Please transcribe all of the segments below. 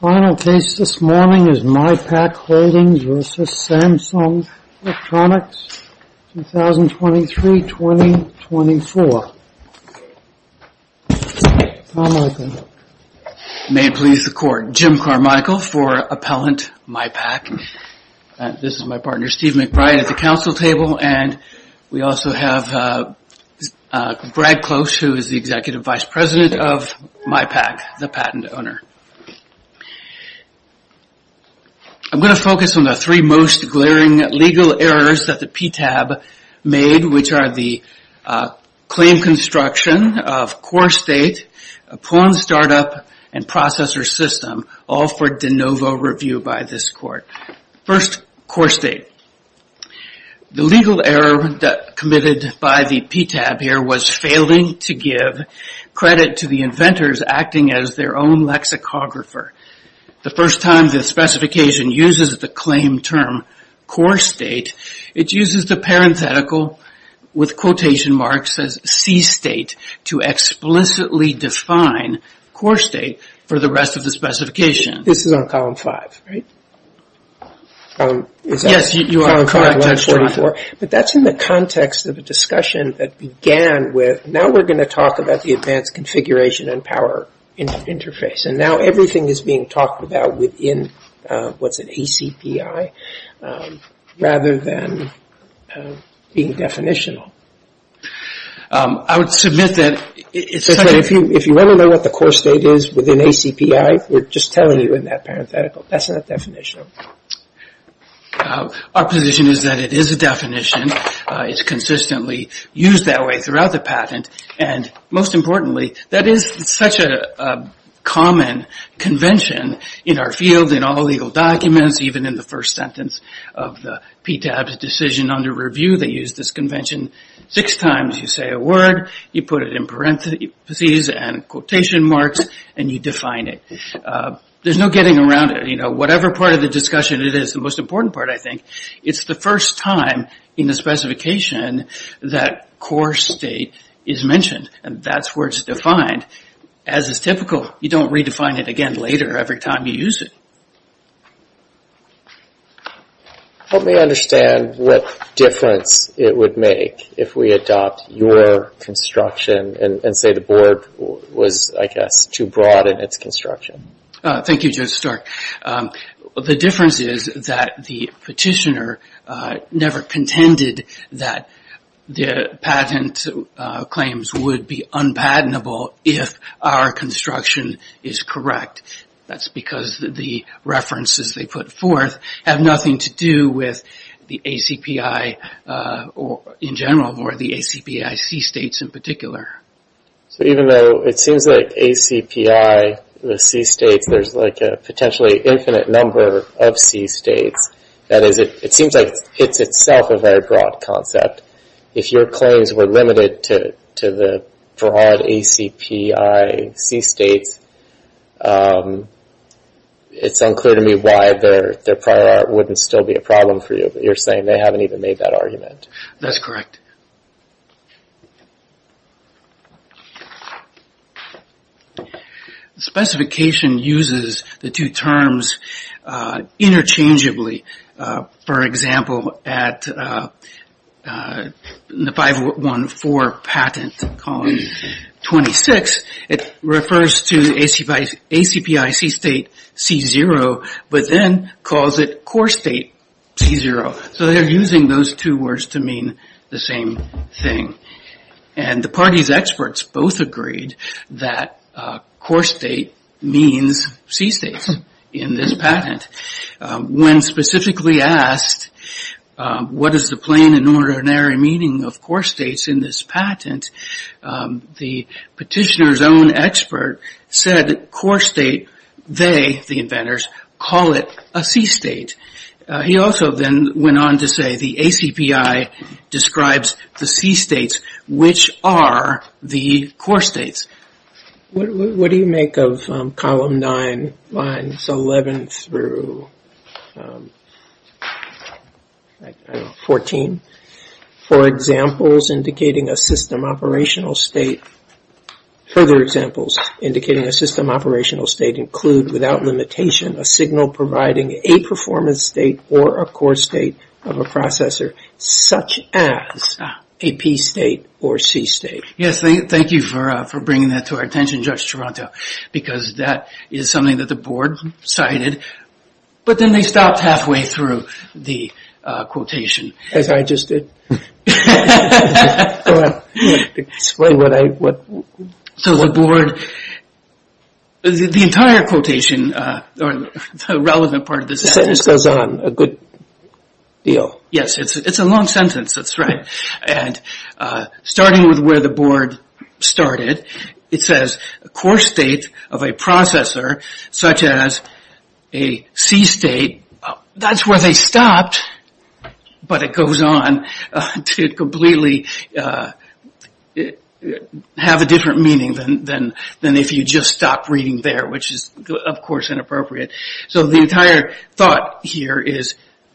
Final case this morning is MyPaQ Holdings v. Samsung Electronics, 2023-2024. Carmichael. May it please the court, Jim Carmichael for appellant MyPaQ. This is my partner Steve McBride at the council table and we also have Brad Close who is the vice president of MyPaQ, the patent owner. I'm going to focus on the three most glaring legal errors that the PTAB made which are the claim construction of core state, pawn startup and processor system all for de novo review by this court. First core state, the legal error that was committed by the PTAB here was failing to give credit to the inventors acting as their own lexicographer. The first time the specification uses the claim term core state, it uses the parenthetical with quotation marks as C state to explicitly define core state for the rest of the specification. This is on column 5, right? Yes, you are correct Judge John. But that's in the context of a discussion that began with now we are going to talk about the advanced configuration and power interface and now everything is being talked about within what's an ACPI rather than being definitional. I would submit that if you want to know what the core state is within ACPI, we are just telling you in that parenthetical. That's not definitional. Our position is that it is a definition. It's consistently used that way throughout the patent and most importantly, that is such a common convention in our field, in all legal documents, even in the first sentence of the PTAB's decision under review, they use this convention six times. You say a word, you put it in parentheses and quotation marks and you define it. There's no getting around it. Whatever part of the discussion it is, the most important part, I think, it's the first time in the specification that core state is mentioned and that's where it's defined. As is typical, you don't redefine it again later every time you use it. Let me understand what difference it would make if we adopt your construction and say the board was, I guess, too broad in its construction. Thank you, Judge Stark. The difference is that the petitioner never contended that the patent claims would be unpatentable if our construction is correct. That's because the references they put forth have nothing to do with the ACPI in general or the ACPI C states in particular. So even though it seems like ACPI, the C states, there's like a potentially infinite number of C states, that is, it seems like it's itself a very broad concept. If your claims were limited to the broad ACPI C states, it's unclear to me why their prior art wouldn't still be a problem for you. You're saying they haven't even made that argument. That's correct. The specification uses the two terms interchangeably. For example, at the 514 patent, column 26, it refers to ACPI C state, C0, but then calls it core state, C0. So they're using those two words to mean the same thing. And the party's experts both agreed that core state means C states in this patent. When specifically asked what is the plain and ordinary meaning of core states in this patent, the petitioner's own expert said core state, they, the inventors, call it a C state. He also then went on to say the ACPI describes the C states, which are the core states. What do you make of column 9, lines 11 through, I don't know, 14? For examples indicating a system operational state, further examples indicating a system operational state include, without limitation, a signal providing a performance state or a core state of a processor, such as a P state or C state. Yes, thank you for bringing that to our attention, Judge Toronto, because that is something that the board cited, but then they stopped halfway through the quotation. As I just did. So the board, the entire quotation, or the relevant part of this sentence goes on a good deal. Yes, it's a long sentence, that's right. And starting with where the board started, it says a core state of a processor, such as a C state, that's where they stopped, but it goes on to completely have a different meaning than if you just stopped reading there, which is, of course, inappropriate. So the entire thought here is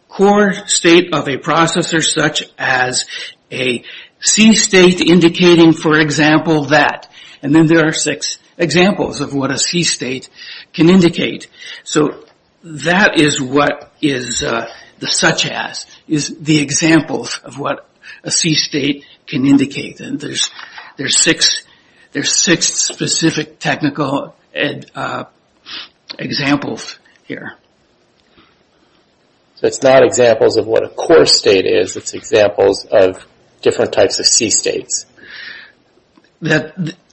core state of a processor, such as a C state indicating, for example, that. And then there are six examples of what a C state can indicate. So that is what is the such as, is the examples of what a C state can indicate. And there's six specific technical examples here. So it's not examples of what a core state is, it's examples of different types of C states.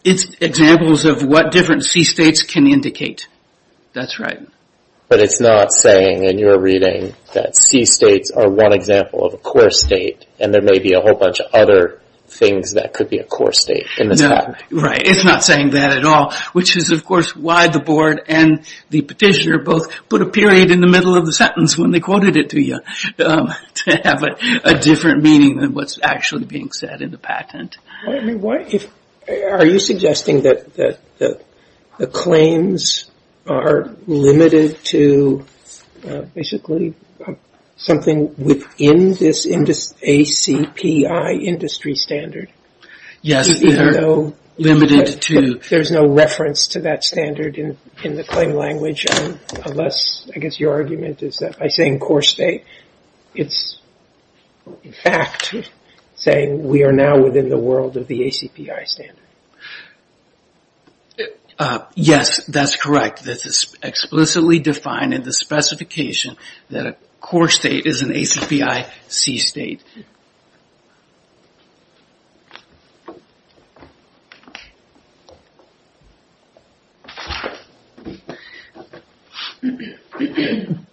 It's examples of what different C states can indicate. That's right. But it's not saying, in your reading, that C states are one example of a core state, and there may be a whole bunch of other things that could be a core state in this patent. Right, it's not saying that at all, which is, of course, why the board and the petitioner both put a period in the middle of the sentence when they quoted it to you. To have a different meaning than what's actually being said in the patent. Are you suggesting that the claims are limited to basically something within this ACPI industry standard? Yes, they are limited to. There's no reference to that standard in the claim language, unless, I guess, your argument is that by saying core state, it's in fact saying we are now within the world of the ACPI standard. Yes, that's correct. This is explicitly defined in the specification that a core state is an ACPI C state.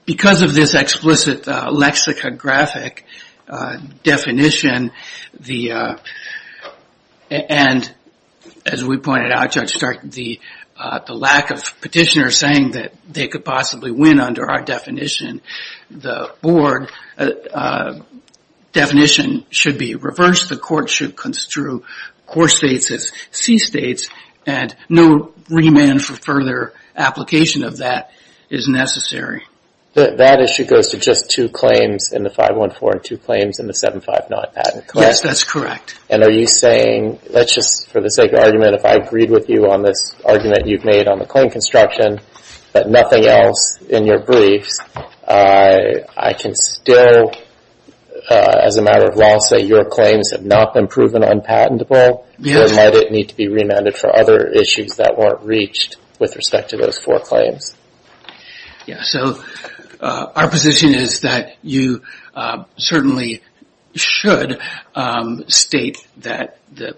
Because of this explicit lexicographic definition, and as we pointed out, Judge Stark, the lack of petitioners saying that they could possibly win under our definition, the board definition should be reversed, the court should construe core states as C states, and no remand for further application of that is necessary. That issue goes to just two claims in the 514 and two claims in the 759 patent, correct? Yes, that's correct. And are you saying, let's just, for the sake of argument, if I agreed with you on this argument you've made on the claim construction, but nothing else in your briefs, I can still, as a matter of law, say your claims have not been proven unpatentable, or might it need to be remanded for other issues that weren't reached with respect to those four claims? Yes, so our position is that you certainly should state that the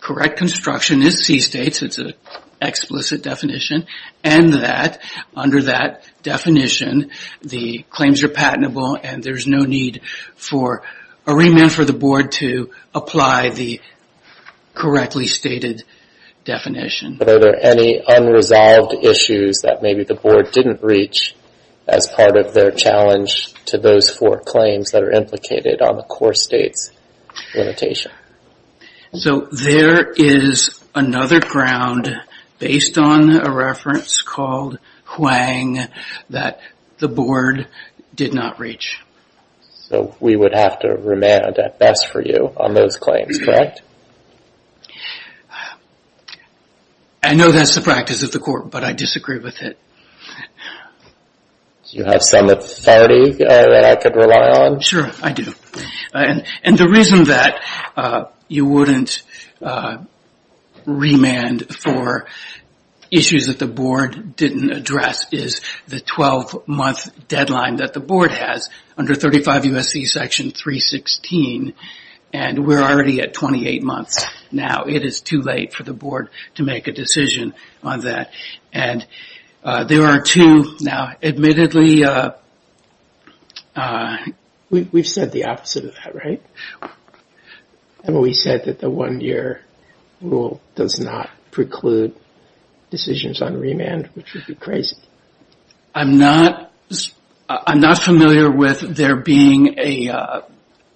correct construction is C states, it's an explicit definition, and that under that definition the claims are patentable and there's no need for a remand for the board to apply the correctly stated definition. But are there any unresolved issues that maybe the board didn't reach as part of their challenge to those four claims that are implicated on the core states limitation? So there is another ground based on a reference called Huang that the board did not reach. So we would have to remand at best for you on those claims, correct? I know that's the practice of the court, but I disagree with it. Do you have some authority that I could rely on? Sure, I do. And the reason that you wouldn't remand for issues that the board didn't address is the 12 month deadline that the board has under 35 U.S.C. section 316, and we're already at 28 months now. It is too late for the board to make a decision on that. There are two, now admittedly... We've said the opposite of that, right? We said that the one year rule does not preclude decisions on remand, which would be crazy. I'm not familiar with there being a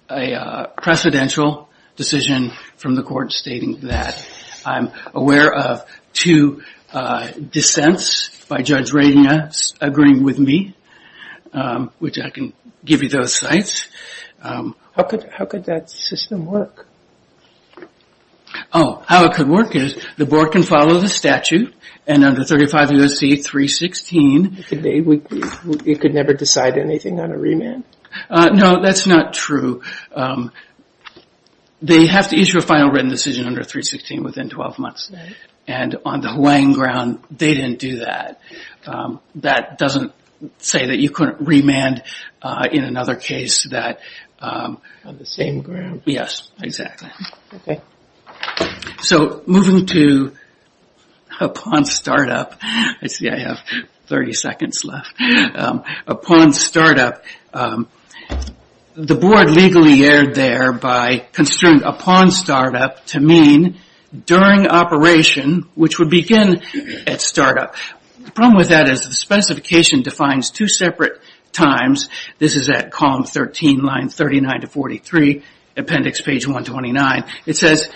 precedential decision from the court stating that. I'm aware of two dissents by Judge Radina agreeing with me, which I can give you those sites. How could that system work? Oh, how it could work is the board can follow the statute, and under 35 U.S.C. 316... It could never decide anything on a remand? No, that's not true. They have to issue a final written decision under 316 within 12 months, and on the Hawaiian ground, they didn't do that. That doesn't say that you couldn't remand in another case that... On the same ground? Yes, exactly. So, moving to upon startup. I see I have 30 seconds left. Upon startup. The board legally erred there by construing upon startup to mean during operation, which would begin at startup. The problem with that is the specification defines two separate times. This is at column 13, line 39 to 43, appendix page 129. It says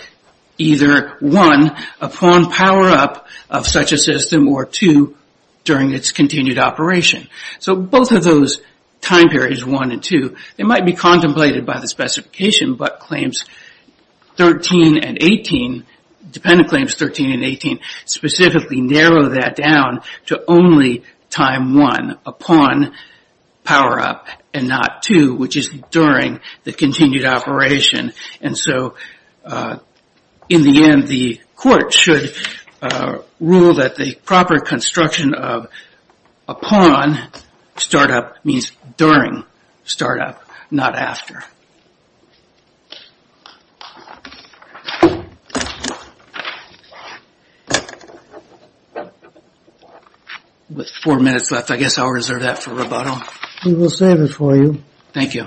either one, upon power up of such a system, or two, during its continued operation. So, both of those time periods, one and two, they might be contemplated by the specification, but claims 13 and 18, dependent claims 13 and 18, specifically narrow that down to only time one, upon power up, and not two, which is during the continued operation. And so, in the end, the court should rule that the proper construction of upon startup means during startup, not after. With four minutes left, I guess I'll reserve that for rebuttal. We will save it for you. Thank you.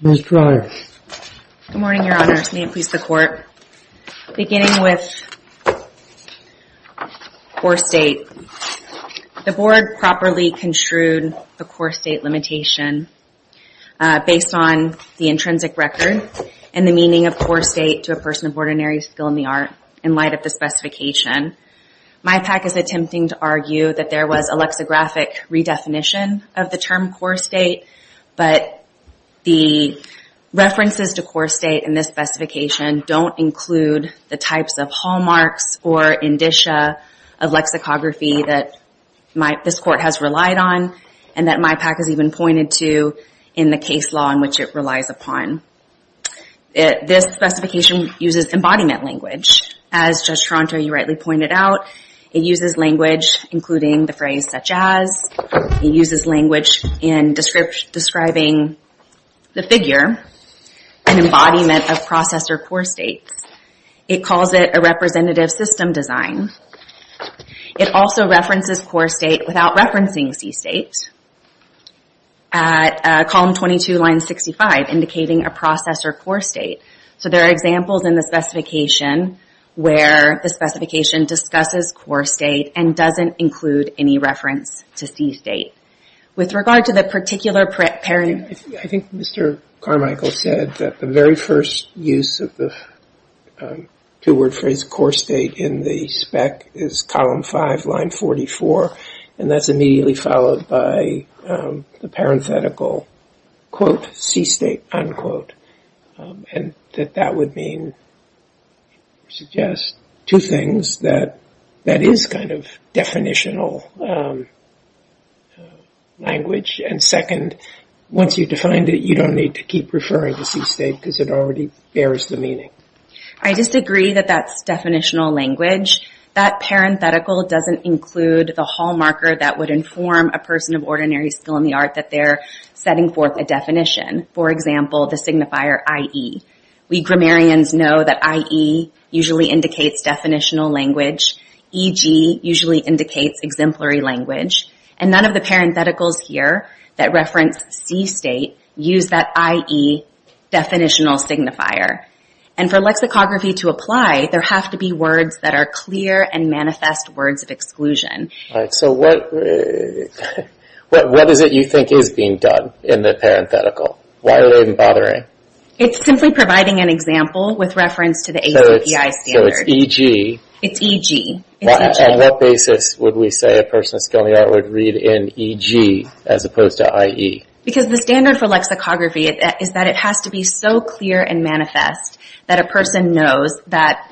Ms. Dreyer. Good morning, Your Honor. May it please the court. Beginning with core state. The board properly construed the core state limitation based on the intrinsic record and the meaning of core state to a person of ordinary skill in the art in light of the specification. MIPAC is attempting to argue that there was a lexicographic redefinition of the term core state, but the references to core state in this specification don't include the types of hallmarks or indicia of lexicography that this court has relied on, and that MIPAC has even pointed to in the case law in which it relies upon. This specification uses embodiment language. As Judge Toronto, you rightly pointed out, it uses language including the phrase such as, it uses language in describing the figure, an embodiment of processor core states. It calls it a representative system design. It also references core state without referencing C state. At column 22, line 65, indicating a processor core state. So there are examples in the specification where the specification discusses core state and doesn't include any reference to C state. With regard to the particular pairing. I think Mr. Carmichael said that the very first use of the two-word phrase core state in the spec is column 5, line 44. And that's immediately followed by the parenthetical, quote, C state, unquote. And that that would mean, suggest two things. That that is kind of definitional language. And second, once you've defined it, you don't need to keep referring to C state because it already bears the meaning. I disagree that that's definitional language. That parenthetical doesn't include the hallmarker that would inform a person of ordinary skill in the art that they're setting forth a definition. For example, the signifier IE. We grammarians know that IE usually indicates definitional language. EG usually indicates exemplary language. And none of the parentheticals here that reference C state use that IE definitional signifier. And for lexicography to apply, there have to be words that are clear and manifest words of exclusion. So what is it you think is being done in the parenthetical? Why are they even bothering? It's simply providing an example with reference to the ACPI standard. So it's EG. It's EG. On what basis would we say a person of skill in the art would read in EG as opposed to IE? Because the standard for lexicography is that it has to be so clear and manifest that a person knows that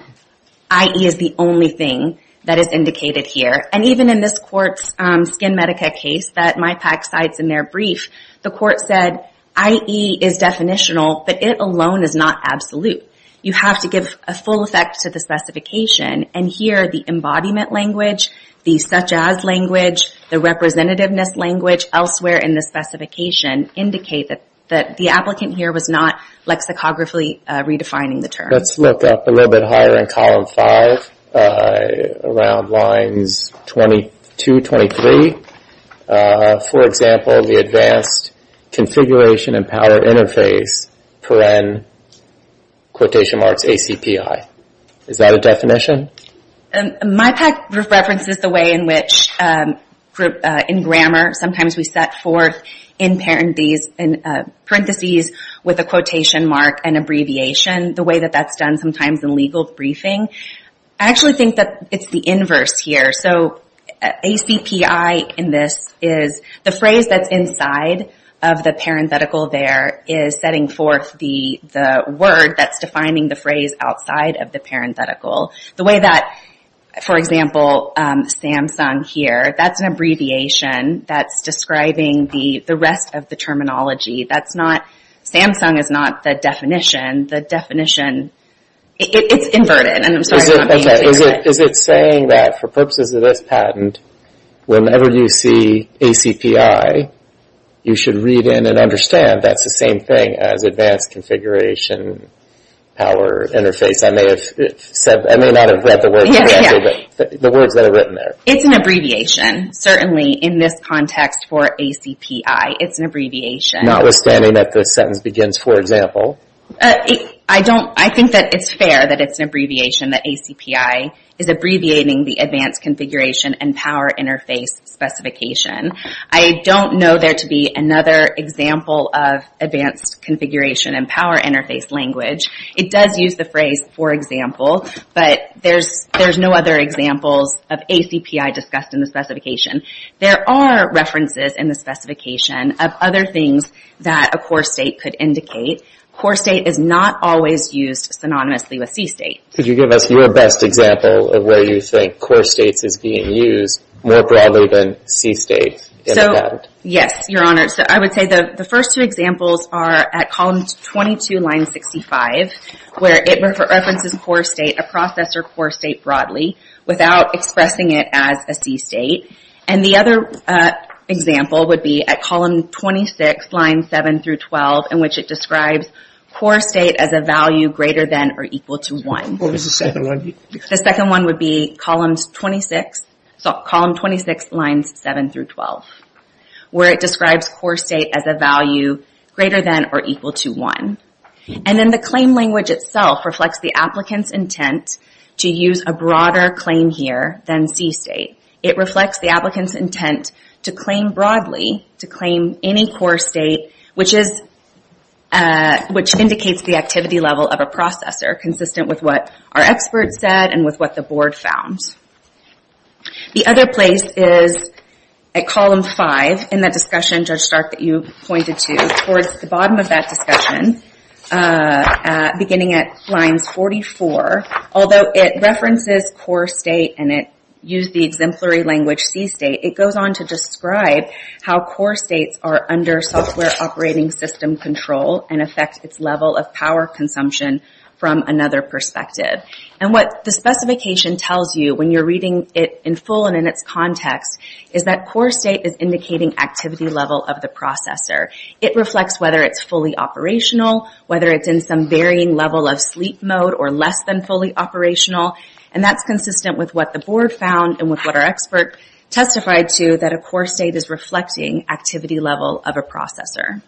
IE is the only thing that is indicated here. And even in this court's Skin Medica case that my PAC cites in their brief, the court said IE is definitional, but it alone is not absolute. You have to give a full effect to the specification. And here the embodiment language, the such-as language, the representativeness language elsewhere in the specification indicate that the applicant here was not lexicographically redefining the term. Let's look up a little bit higher in column five around lines 22, 23. For example, the advanced configuration and power interface, paren, quotation marks, ACPI. Is that a definition? My PAC references the way in which in grammar, sometimes we set forth in parentheses with a quotation mark and abbreviation, the way that that's done sometimes in legal briefing. I actually think that it's the inverse here. So ACPI in this is the phrase that's inside of the parenthetical there is setting forth the word that's defining the phrase outside of the parenthetical. The way that, for example, Samsung here, that's an abbreviation that's describing the rest of the terminology. That's not, Samsung is not the definition. The definition, it's inverted. Is it saying that for purposes of this patent, whenever you see ACPI, you should read in and understand that's the same thing as advanced configuration, power interface. I may not have read the words that are written there. It's an abbreviation, certainly in this context for ACPI. It's an abbreviation. Notwithstanding that the sentence begins, for example. I think that it's fair that it's an abbreviation, that ACPI is abbreviating the advanced configuration and power interface specification. I don't know there to be another example of advanced configuration and power interface language. It does use the phrase for example, but there's no other examples of ACPI discussed in the specification. There are references in the specification of other things that a core state could indicate. Core state is not always used synonymously with C state. Could you give us your best example of where you think core states is being used more broadly than C states in a patent? Yes, Your Honor. I would say the first two examples are at column 22, line 65, where it references core state, a processor core state broadly, without expressing it as a C state. The other example would be at column 26, line 7 through 12, in which it describes core state as a value greater than or equal to 1. What was the second one? The second one would be column 26, lines 7 through 12, where it describes core state as a value greater than or equal to 1. And then the claim language itself reflects the applicant's intent to use a broader claim here than C state. It reflects the applicant's intent to claim broadly, to claim any core state, which indicates the activity level of a processor, consistent with what our expert said and with what the board found. The other place is at column 5 in that discussion, Judge Stark, that you pointed to. Towards the bottom of that discussion, beginning at lines 44, although it references core state and it used the exemplary language C state, it goes on to describe how core states are under software operating system control and affect its level of power consumption from another perspective. And what the specification tells you when you're reading it in full and in its context is that core state is indicating activity level of the processor. It reflects whether it's fully operational, whether it's in some varying level of sleep mode or less than fully operational, and that's consistent with what the board found and with what our expert testified to, that a core state is reflecting activity level of a processor.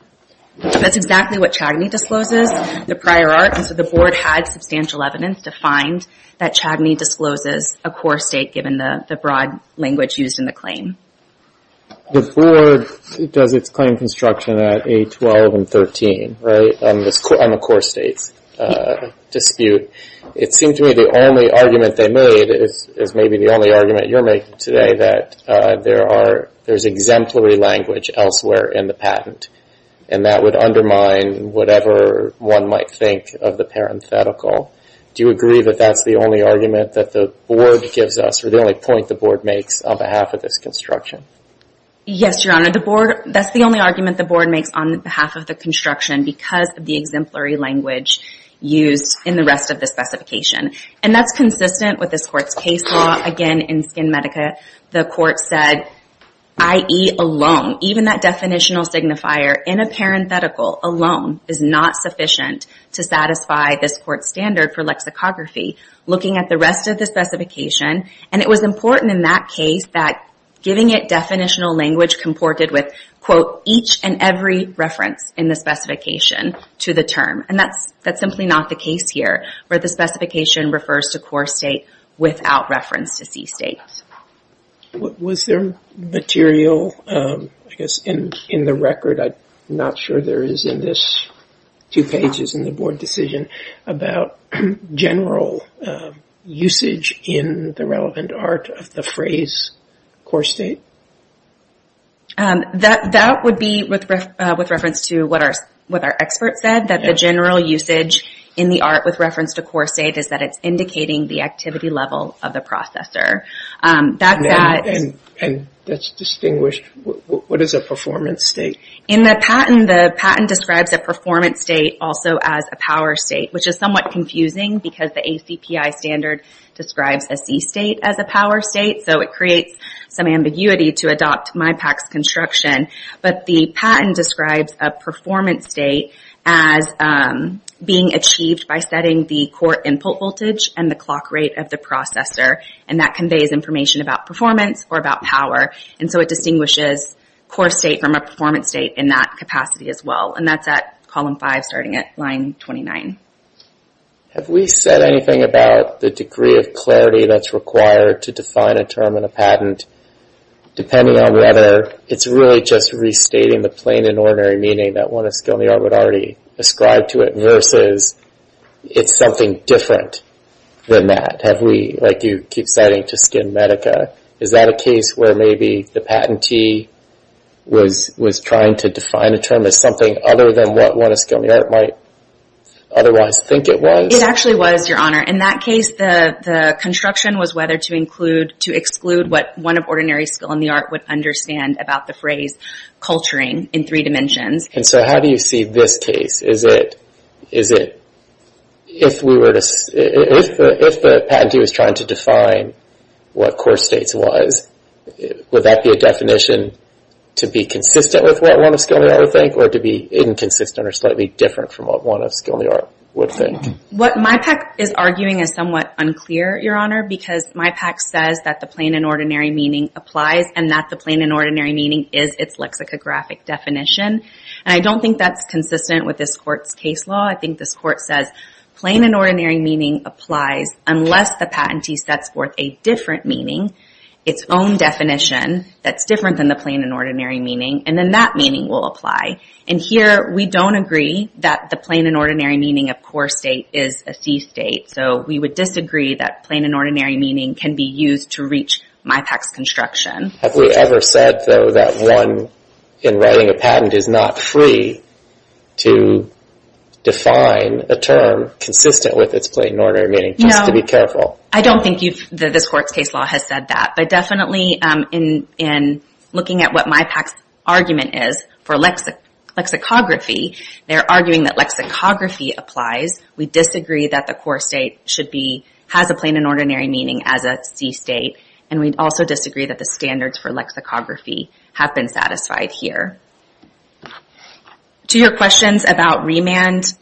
That's exactly what Chagny discloses, the prior art, and so the board had substantial evidence to find that Chagny discloses a core state given the broad language used in the claim. The board does its claim construction at A12 and 13, right, on the core states dispute. It seemed to me the only argument they made is maybe the only argument you're making today, that there's exemplary language elsewhere in the patent, and that would undermine whatever one might think of the parenthetical. Do you agree that that's the only argument that the board gives us or the only point the board makes on behalf of this construction? Yes, Your Honor. That's the only argument the board makes on behalf of the construction because of the exemplary language used in the rest of the specification, and that's consistent with this court's case law. Again, in SkinMedica, the court said IE alone, even that definitional signifier in a parenthetical alone is not sufficient to satisfy this court's standard for lexicography. Looking at the rest of the specification, and it was important in that case that giving it definitional language comported with, quote, each and every reference in the specification to the term, and that's simply not the case here where the specification refers to core state without reference to C state. Was there material, I guess, in the record, I'm not sure there is in this two pages in the board decision, about general usage in the relevant art of the phrase core state? That would be with reference to what our expert said, that the general usage in the art with reference to core state is that it's indicating the activity level of the processor. That's distinguished. What is a performance state? In the patent, the patent describes a performance state also as a power state, which is somewhat confusing because the ACPI standard describes a C state as a power state, so it creates some ambiguity to adopt MIPAC's construction, but the patent describes a performance state as being achieved by setting the core input voltage and the clock rate of the processor, and that conveys information about performance or about power, and so it distinguishes core state from a performance state in that capacity as well, and that's at column five starting at line 29. Have we said anything about the degree of clarity that's required to define a term in a patent depending on whether it's really just restating the plain and ordinary meaning that one of the skill in the art would already ascribe to it versus it's something different than that? Have we, like you keep citing to SkinMedica, is that a case where maybe the patentee was trying to define a term as something other than what one of the skill in the art might otherwise think it was? It actually was, Your Honor. In that case, the construction was whether to include, to exclude what one of ordinary skill in the art would understand about the phrase culturing in three dimensions. And so how do you see this case? Is it if the patentee was trying to define what core states was, would that be a definition to be consistent with what one of skill in the art would think or to be inconsistent or slightly different from what one of skill in the art would think? What MIPAC is arguing is somewhat unclear, Your Honor, because MIPAC says that the plain and ordinary meaning applies and that the plain and ordinary meaning is its lexicographic definition. And I don't think that's consistent with this court's case law. I think this court says plain and ordinary meaning applies unless the patentee sets forth a different meaning, its own definition that's different than the plain and ordinary meaning, and then that meaning will apply. And here we don't agree that the plain and ordinary meaning of core state is a thief state. So we would disagree that plain and ordinary meaning can be used to reach MIPAC's construction. Have we ever said, though, that one, in writing a patent, is not free to define a term consistent with its plain and ordinary meaning? No. Just to be careful. I don't think this court's case law has said that. But definitely in looking at what MIPAC's argument is for lexicography, they're arguing that lexicography applies. We disagree that the core state has a plain and ordinary meaning as a thief state. And we also disagree that the standards for lexicography have been satisfied here. To your questions about remand,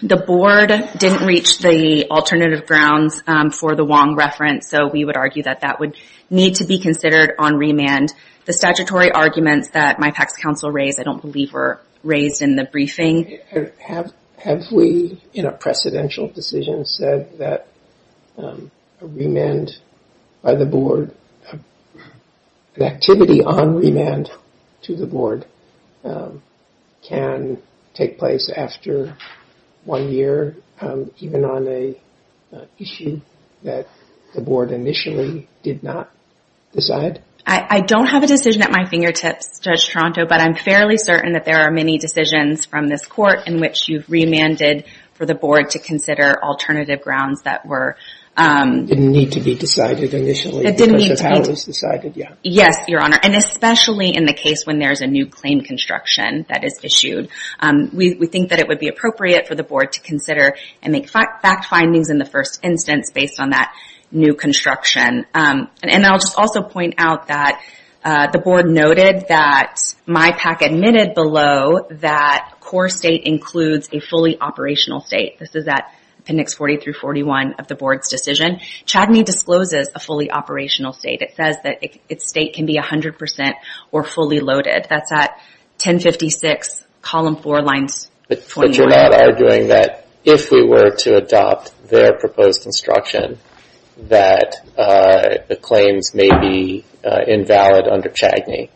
the board didn't reach the alternative grounds for the Wong reference, so we would argue that that would need to be considered on remand. The statutory arguments that MIPAC's counsel raised I don't believe were raised in the briefing. Have we, in a precedential decision, said that a remand by the board, an activity on remand to the board, can take place after one year, even on an issue that the board initially did not decide? I don't have a decision at my fingertips, Judge Toronto, but I'm fairly certain that there are many decisions from this court in which you've remanded for the board to consider alternative grounds that were... Didn't need to be decided initially because of how it was decided, yeah. Yes, Your Honor. And especially in the case when there's a new claim construction that is issued. We think that it would be appropriate for the board to consider and make fact findings in the first instance based on that new construction. And I'll just also point out that the board noted that MIPAC admitted below that core state includes a fully operational state. This is at Appendix 40 through 41 of the board's decision. Chadney discloses a fully operational state. It says that its state can be 100% or fully loaded. That's at 1056, Column 4, Lines 21. But you're not arguing that if we were to adopt their proposed instruction that the claims may be invalid under Chadney.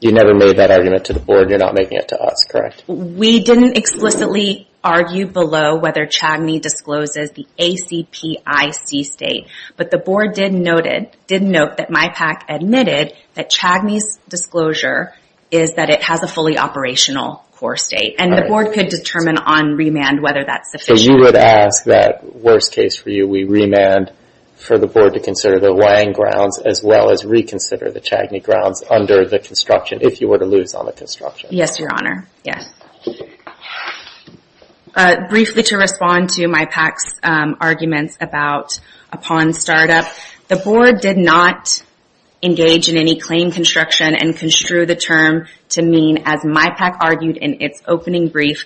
You never made that argument to the board. You're not making it to us, correct? We didn't explicitly argue below whether Chadney discloses the ACPIC state. But the board did note that MIPAC admitted that Chadney's disclosure is that it has a fully operational core state. And the board could determine on remand whether that's sufficient. So you would ask that, worst case for you, we remand for the board to consider the weighing grounds as well as reconsider the Chadney grounds under the construction if you were to lose on the construction. Yes, Your Honor. Yes. Briefly to respond to MIPAC's arguments upon startup, the board did not engage in any claim construction and construe the term to mean, as MIPAC argued in its opening brief,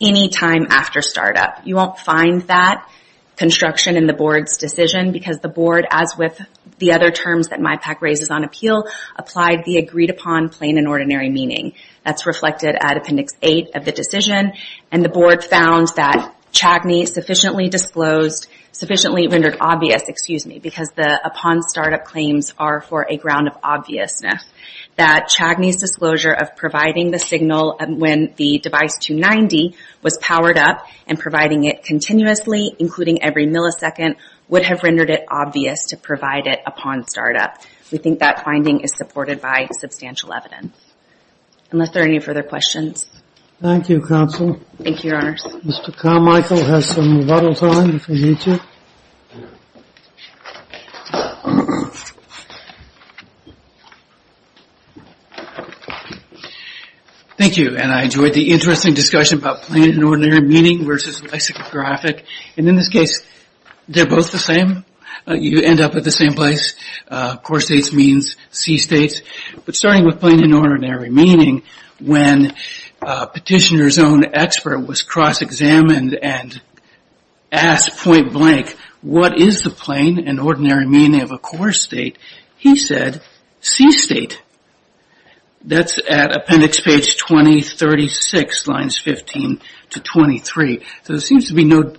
any time after startup. You won't find that construction in the board's decision because the board, as with the other terms that MIPAC raises on appeal, applied the agreed upon plain and ordinary meaning. That's reflected at Appendix 8 of the decision. And the board found that Chadney sufficiently disclosed, sufficiently rendered obvious, excuse me, because the upon startup claims are for a ground of obviousness, that Chadney's disclosure of providing the signal when the device 290 was powered up and providing it continuously, including every millisecond, would have rendered it obvious to provide it upon startup. We think that finding is supported by substantial evidence. Unless there are any further questions. Thank you, Counsel. Thank you, Your Honors. Mr. Carmichael has some rebuttal time if we need to. Thank you. And I enjoyed the interesting discussion about plain and ordinary meaning versus lexicographic. And in this case, they're both the same. You end up at the same place. Core states means C states. But starting with plain and ordinary meaning, when a petitioner's own expert was cross examined and asked point blank, what is the plain and ordinary meaning of a core state, he said, C state. That's at appendix page 2036, lines 15 to 23. So there seems to be no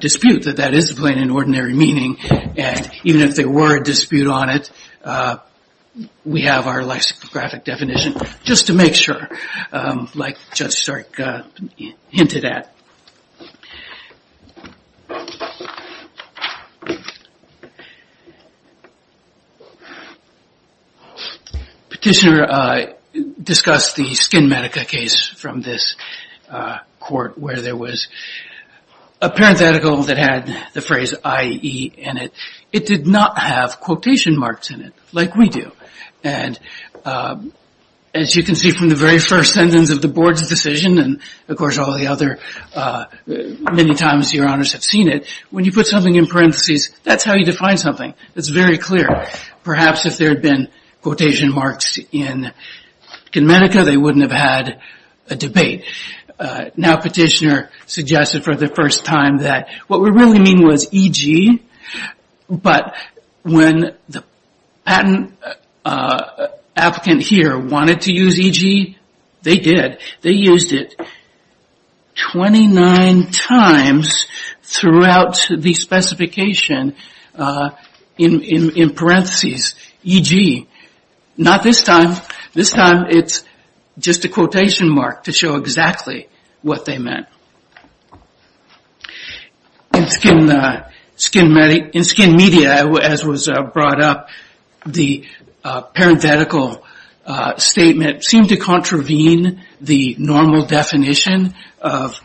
dispute that that is plain and ordinary meaning. And even if there were a dispute on it, we have our lexicographic definition just to make sure. Like Judge Stark hinted at. Petitioner discussed the Skin Medica case from this court where there was a parenthetical that had the phrase IE in it. It did not have quotation marks in it like we do. And as you can see from the very first sentence of the board's decision, and of course all the other many times your honors have seen it, when you put something in parentheses, that's how you define something. It's very clear. Perhaps if there had been quotation marks in Skin Medica, they wouldn't have had a debate. Now petitioner suggested for the first time that what we really mean was EG, but when the patent applicant here wanted to use EG, they did. They used it 29 times throughout the specification in parentheses, EG. Not this time. This time it's just a quotation mark to show exactly what they meant. In Skin Media, as was brought up, the parenthetical statement seemed to contravene the normal definition of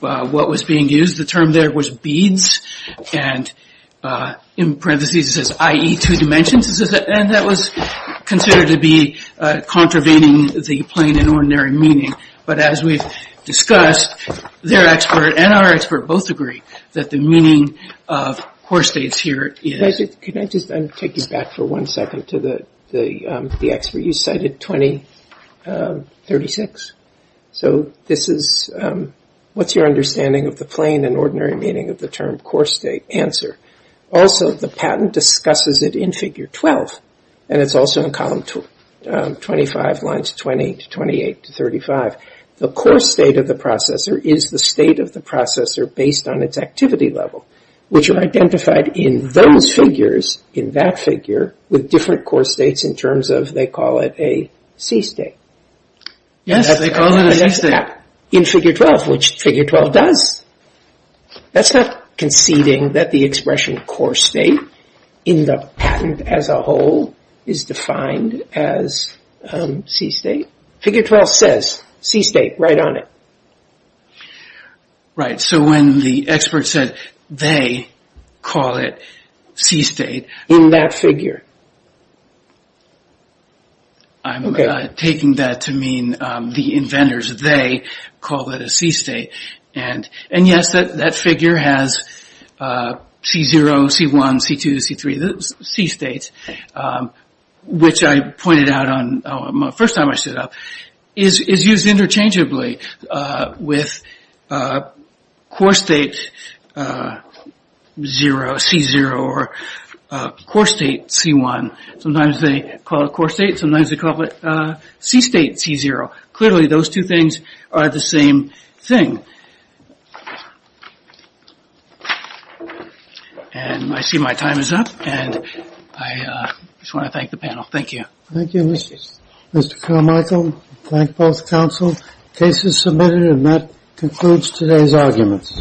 what was being used. The term there was beads, and in parentheses it says IE two dimensions, and that was considered to be contravening the plain and ordinary meaning. But as we've discussed, their expert and our expert both agree that the meaning of core states here is. Can I just take you back for one second to the expert you cited, 2036? So this is what's your understanding of the plain and ordinary meaning of the term core state answer? Also, the patent discusses it in figure 12, and it's also in column 25, lines 20 to 28 to 35. The core state of the processor is the state of the processor based on its activity level, which are identified in those figures, in that figure, with different core states in terms of they call it a C state. Yes, they call it a C state. In figure 12, which figure 12 does. That's not conceding that the expression core state in the patent as a whole is defined as C state. Figure 12 says C state right on it. Right. So when the expert said they call it C state. In that figure. I'm taking that to mean the inventors, they call it a C state. And yes, that figure has C0, C1, C2, C3, C states, which I pointed out on my first time I stood up, is used interchangeably with core state 0, C0, or core state C1. Sometimes they call it core state, sometimes they call it C state C0. Clearly those two things are the same thing. And I see my time is up. And I just want to thank the panel. Thank you. Thank you, Mr. Carmichael. Thank both counsel. Case is submitted and that concludes today's arguments.